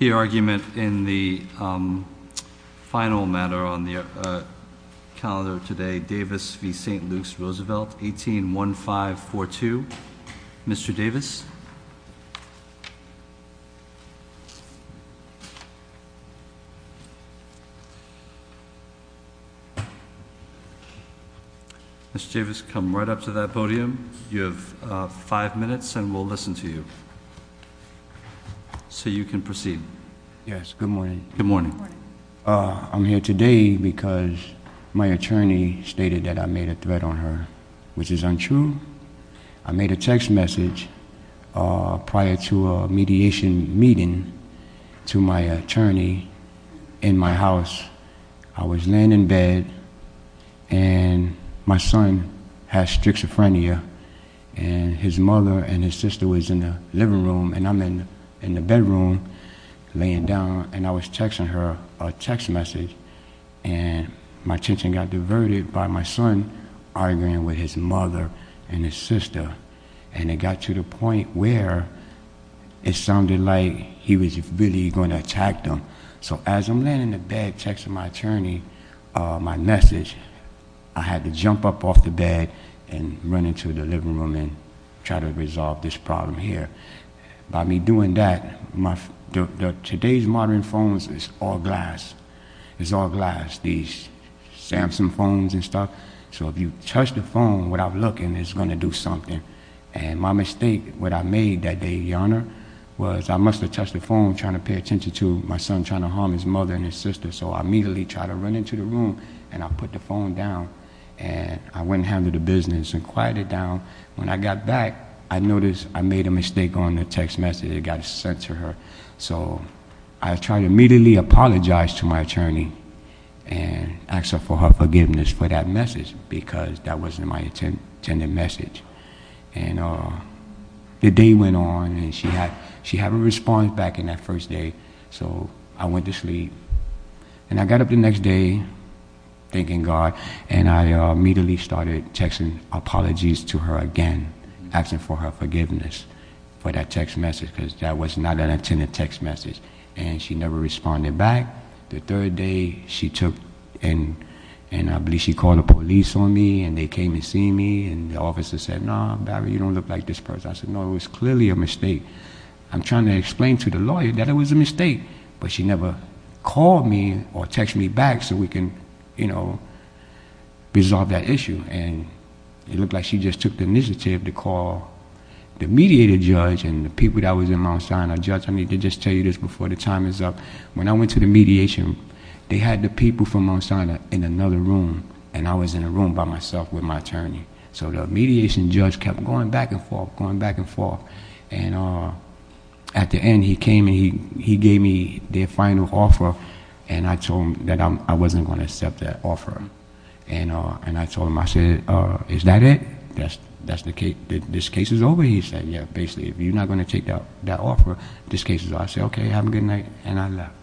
181542, Mr. Davis. Mr. Davis, come right up to that podium. You have five minutes and we'll listen to you. So you can proceed. Yes, good morning. Good morning. I'm here today because my attorney stated that I made a threat on her, which is untrue. I made a text message prior to a mediation meeting to my attorney in my house. I was laying in bed and my son has schizophrenia. And his mother and his sister was in the living room and I'm in the bedroom laying down. And I was texting her a text message and my attention got diverted by my son arguing with his mother and his sister. And it got to the point where it sounded like he was really going to attack them. So as I'm laying in the bed texting my attorney, my message, I had to jump up off the bed and run into the living room and try to resolve this problem here. By me doing that, today's modern phones is all glass. It's all glass, these Samsung phones and stuff. So if you touch the phone without looking, it's going to do something. And my mistake, what I made that day, Your Honor, was I must have touched the phone trying to pay attention to my son trying to harm his mother and his sister. So I immediately tried to run into the room and I put the phone down. And I went and handled the business and quieted it down. When I got back, I noticed I made a mistake on the text message that got sent to her. So I tried to immediately apologize to my attorney and ask her for her forgiveness for that message because that wasn't my intended message. And the day went on and she hadn't responded back in that first day, so I went to sleep. And I got up the next day, thanking God, and I immediately started texting apologies to her again, asking for her forgiveness for that text message. Because that was not an intended text message. And she never responded back. The third day, she took and I believe she called the police on me and they came to see me. And the officer said, no, Barry, you don't look like this person. I said, no, it was clearly a mistake. I'm trying to explain to the lawyer that it was a mistake, but she never called me or texted me back so we can, you know, resolve that issue. And it looked like she just took the initiative to call the mediator judge and the people that was in Mount Sinai. Judge, I need to just tell you this before the time is up. When I went to the mediation, they had the people from Mount Sinai in another room and I was in a room by myself with my attorney. So the mediation judge kept going back and forth, going back and forth. And at the end, he came and he gave me their final offer and I told him that I wasn't going to accept that offer. And I told him, I said, is that it? This case is over, he said. Yeah, basically, if you're not going to take that offer, this case is over. I said, okay, have a good night and I left.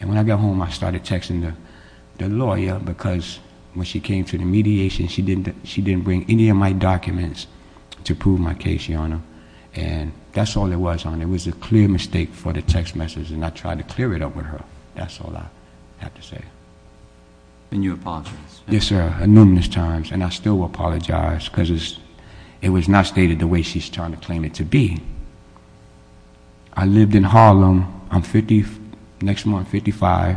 And when I got home, I started texting the lawyer because when she came to the mediation, she didn't bring any of my documents to prove my case, Your Honor. And that's all it was, Your Honor. It was a clear mistake for the text message and I tried to clear it up with her. That's all I have to say. And you apologized. Yes, sir. Numerous times and I still apologize because it was not stated the way she's trying to claim it to be. I lived in Harlem. I'm 50, next month 55,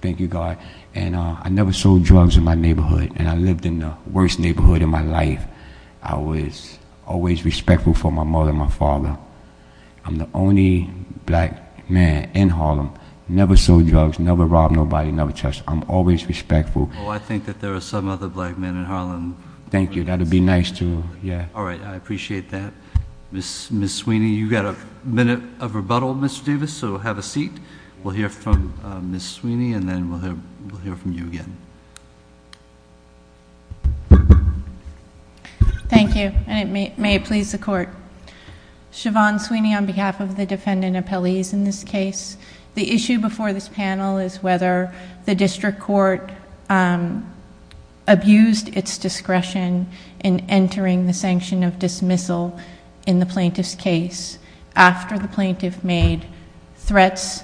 thank you God. And I never sold drugs in my neighborhood and I lived in the worst neighborhood in my life. I was always respectful for my mother and my father. I'm the only black man in Harlem. Never sold drugs, never robbed nobody, never touched. I'm always respectful. Oh, I think that there are some other black men in Harlem. Thank you, that would be nice to, yeah. All right, I appreciate that. Ms. Sweeney, you've got a minute of rebuttal, Mr. Davis, so have a seat. We'll hear from Ms. Sweeney and then we'll hear from you again. Thank you. And it may please the court. Siobhan Sweeney on behalf of the defendant appellees in this case. The issue before this panel is whether the district court abused its discretion in entering the sanction of dismissal in the plaintiff's case after the plaintiff made threats,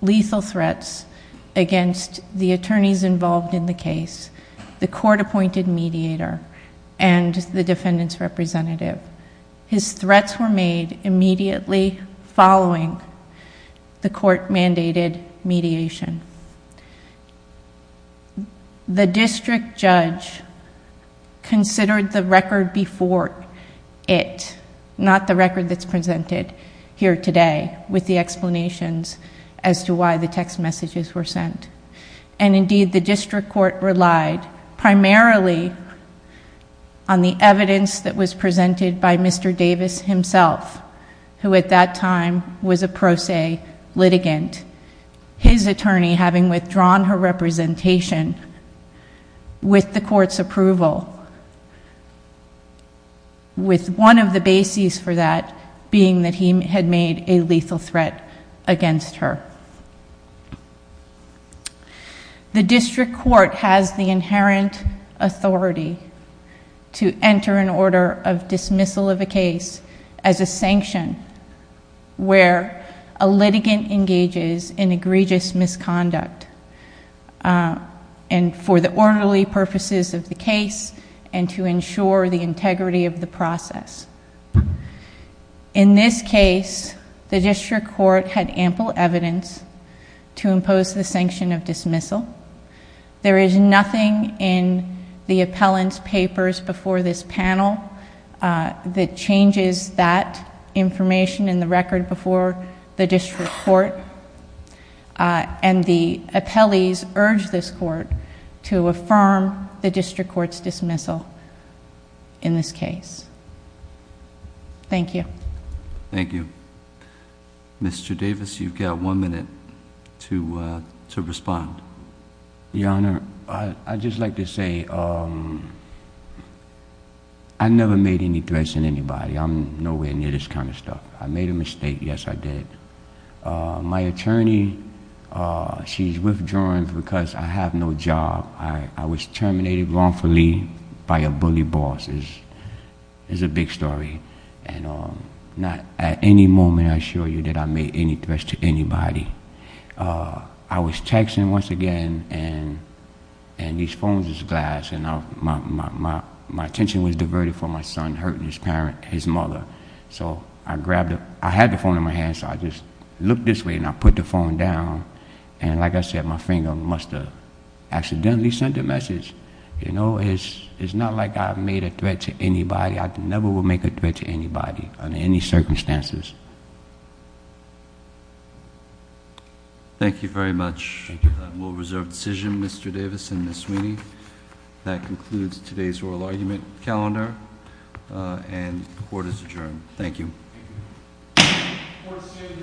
lethal threats against the attorneys involved in the case, the court-appointed mediator, and the defendant's representative. His threats were made immediately following the court-mandated mediation. The district judge considered the record before it, not the record that's presented here today, with the explanations as to why the text messages were sent. And indeed, the district court relied primarily on the evidence that was presented by Mr. Davis himself, who at that time was a pro se litigant, his attorney having withdrawn her representation with the court's approval, with one of the bases for that being that he had made a lethal threat against her. The district court has the inherent authority to enter an order of dismissal of a case as a sanction where a litigant engages in egregious misconduct, and for the orderly purposes of the case and to ensure the integrity of the process. In this case, the district court had ample evidence to impose the sanction of dismissal. There is nothing in the appellant's papers before this panel that changes that information in the record before the district court, and the appellees urged this court to affirm the district court's dismissal in this case. Thank you. Thank you. Mr. Davis, you've got one minute to respond. Your Honor, I'd just like to say I never made any threats to anybody. I'm nowhere near this kind of stuff. I made a mistake, yes I did. My attorney, she's withdrawing because I have no job. I was terminated wrongfully by a bully boss. It's a big story. Not at any moment I assure you that I made any threats to anybody. I was texting once again, and these phones is glass, and my attention was diverted from my son hurting his mother. So I grabbed him. I had the phone in my hand, so I just looked this way, and I put the phone down, and like I said, my friend must have accidentally sent a message. It's not like I made a threat to anybody. I never would make a threat to anybody under any circumstances. Thank you very much. Thank you. That will reserve decision, Mr. Davis and Ms. Sweeney. That concludes today's oral argument calendar, and the court is adjourned. Thank you. Thank you. Court is adjourned.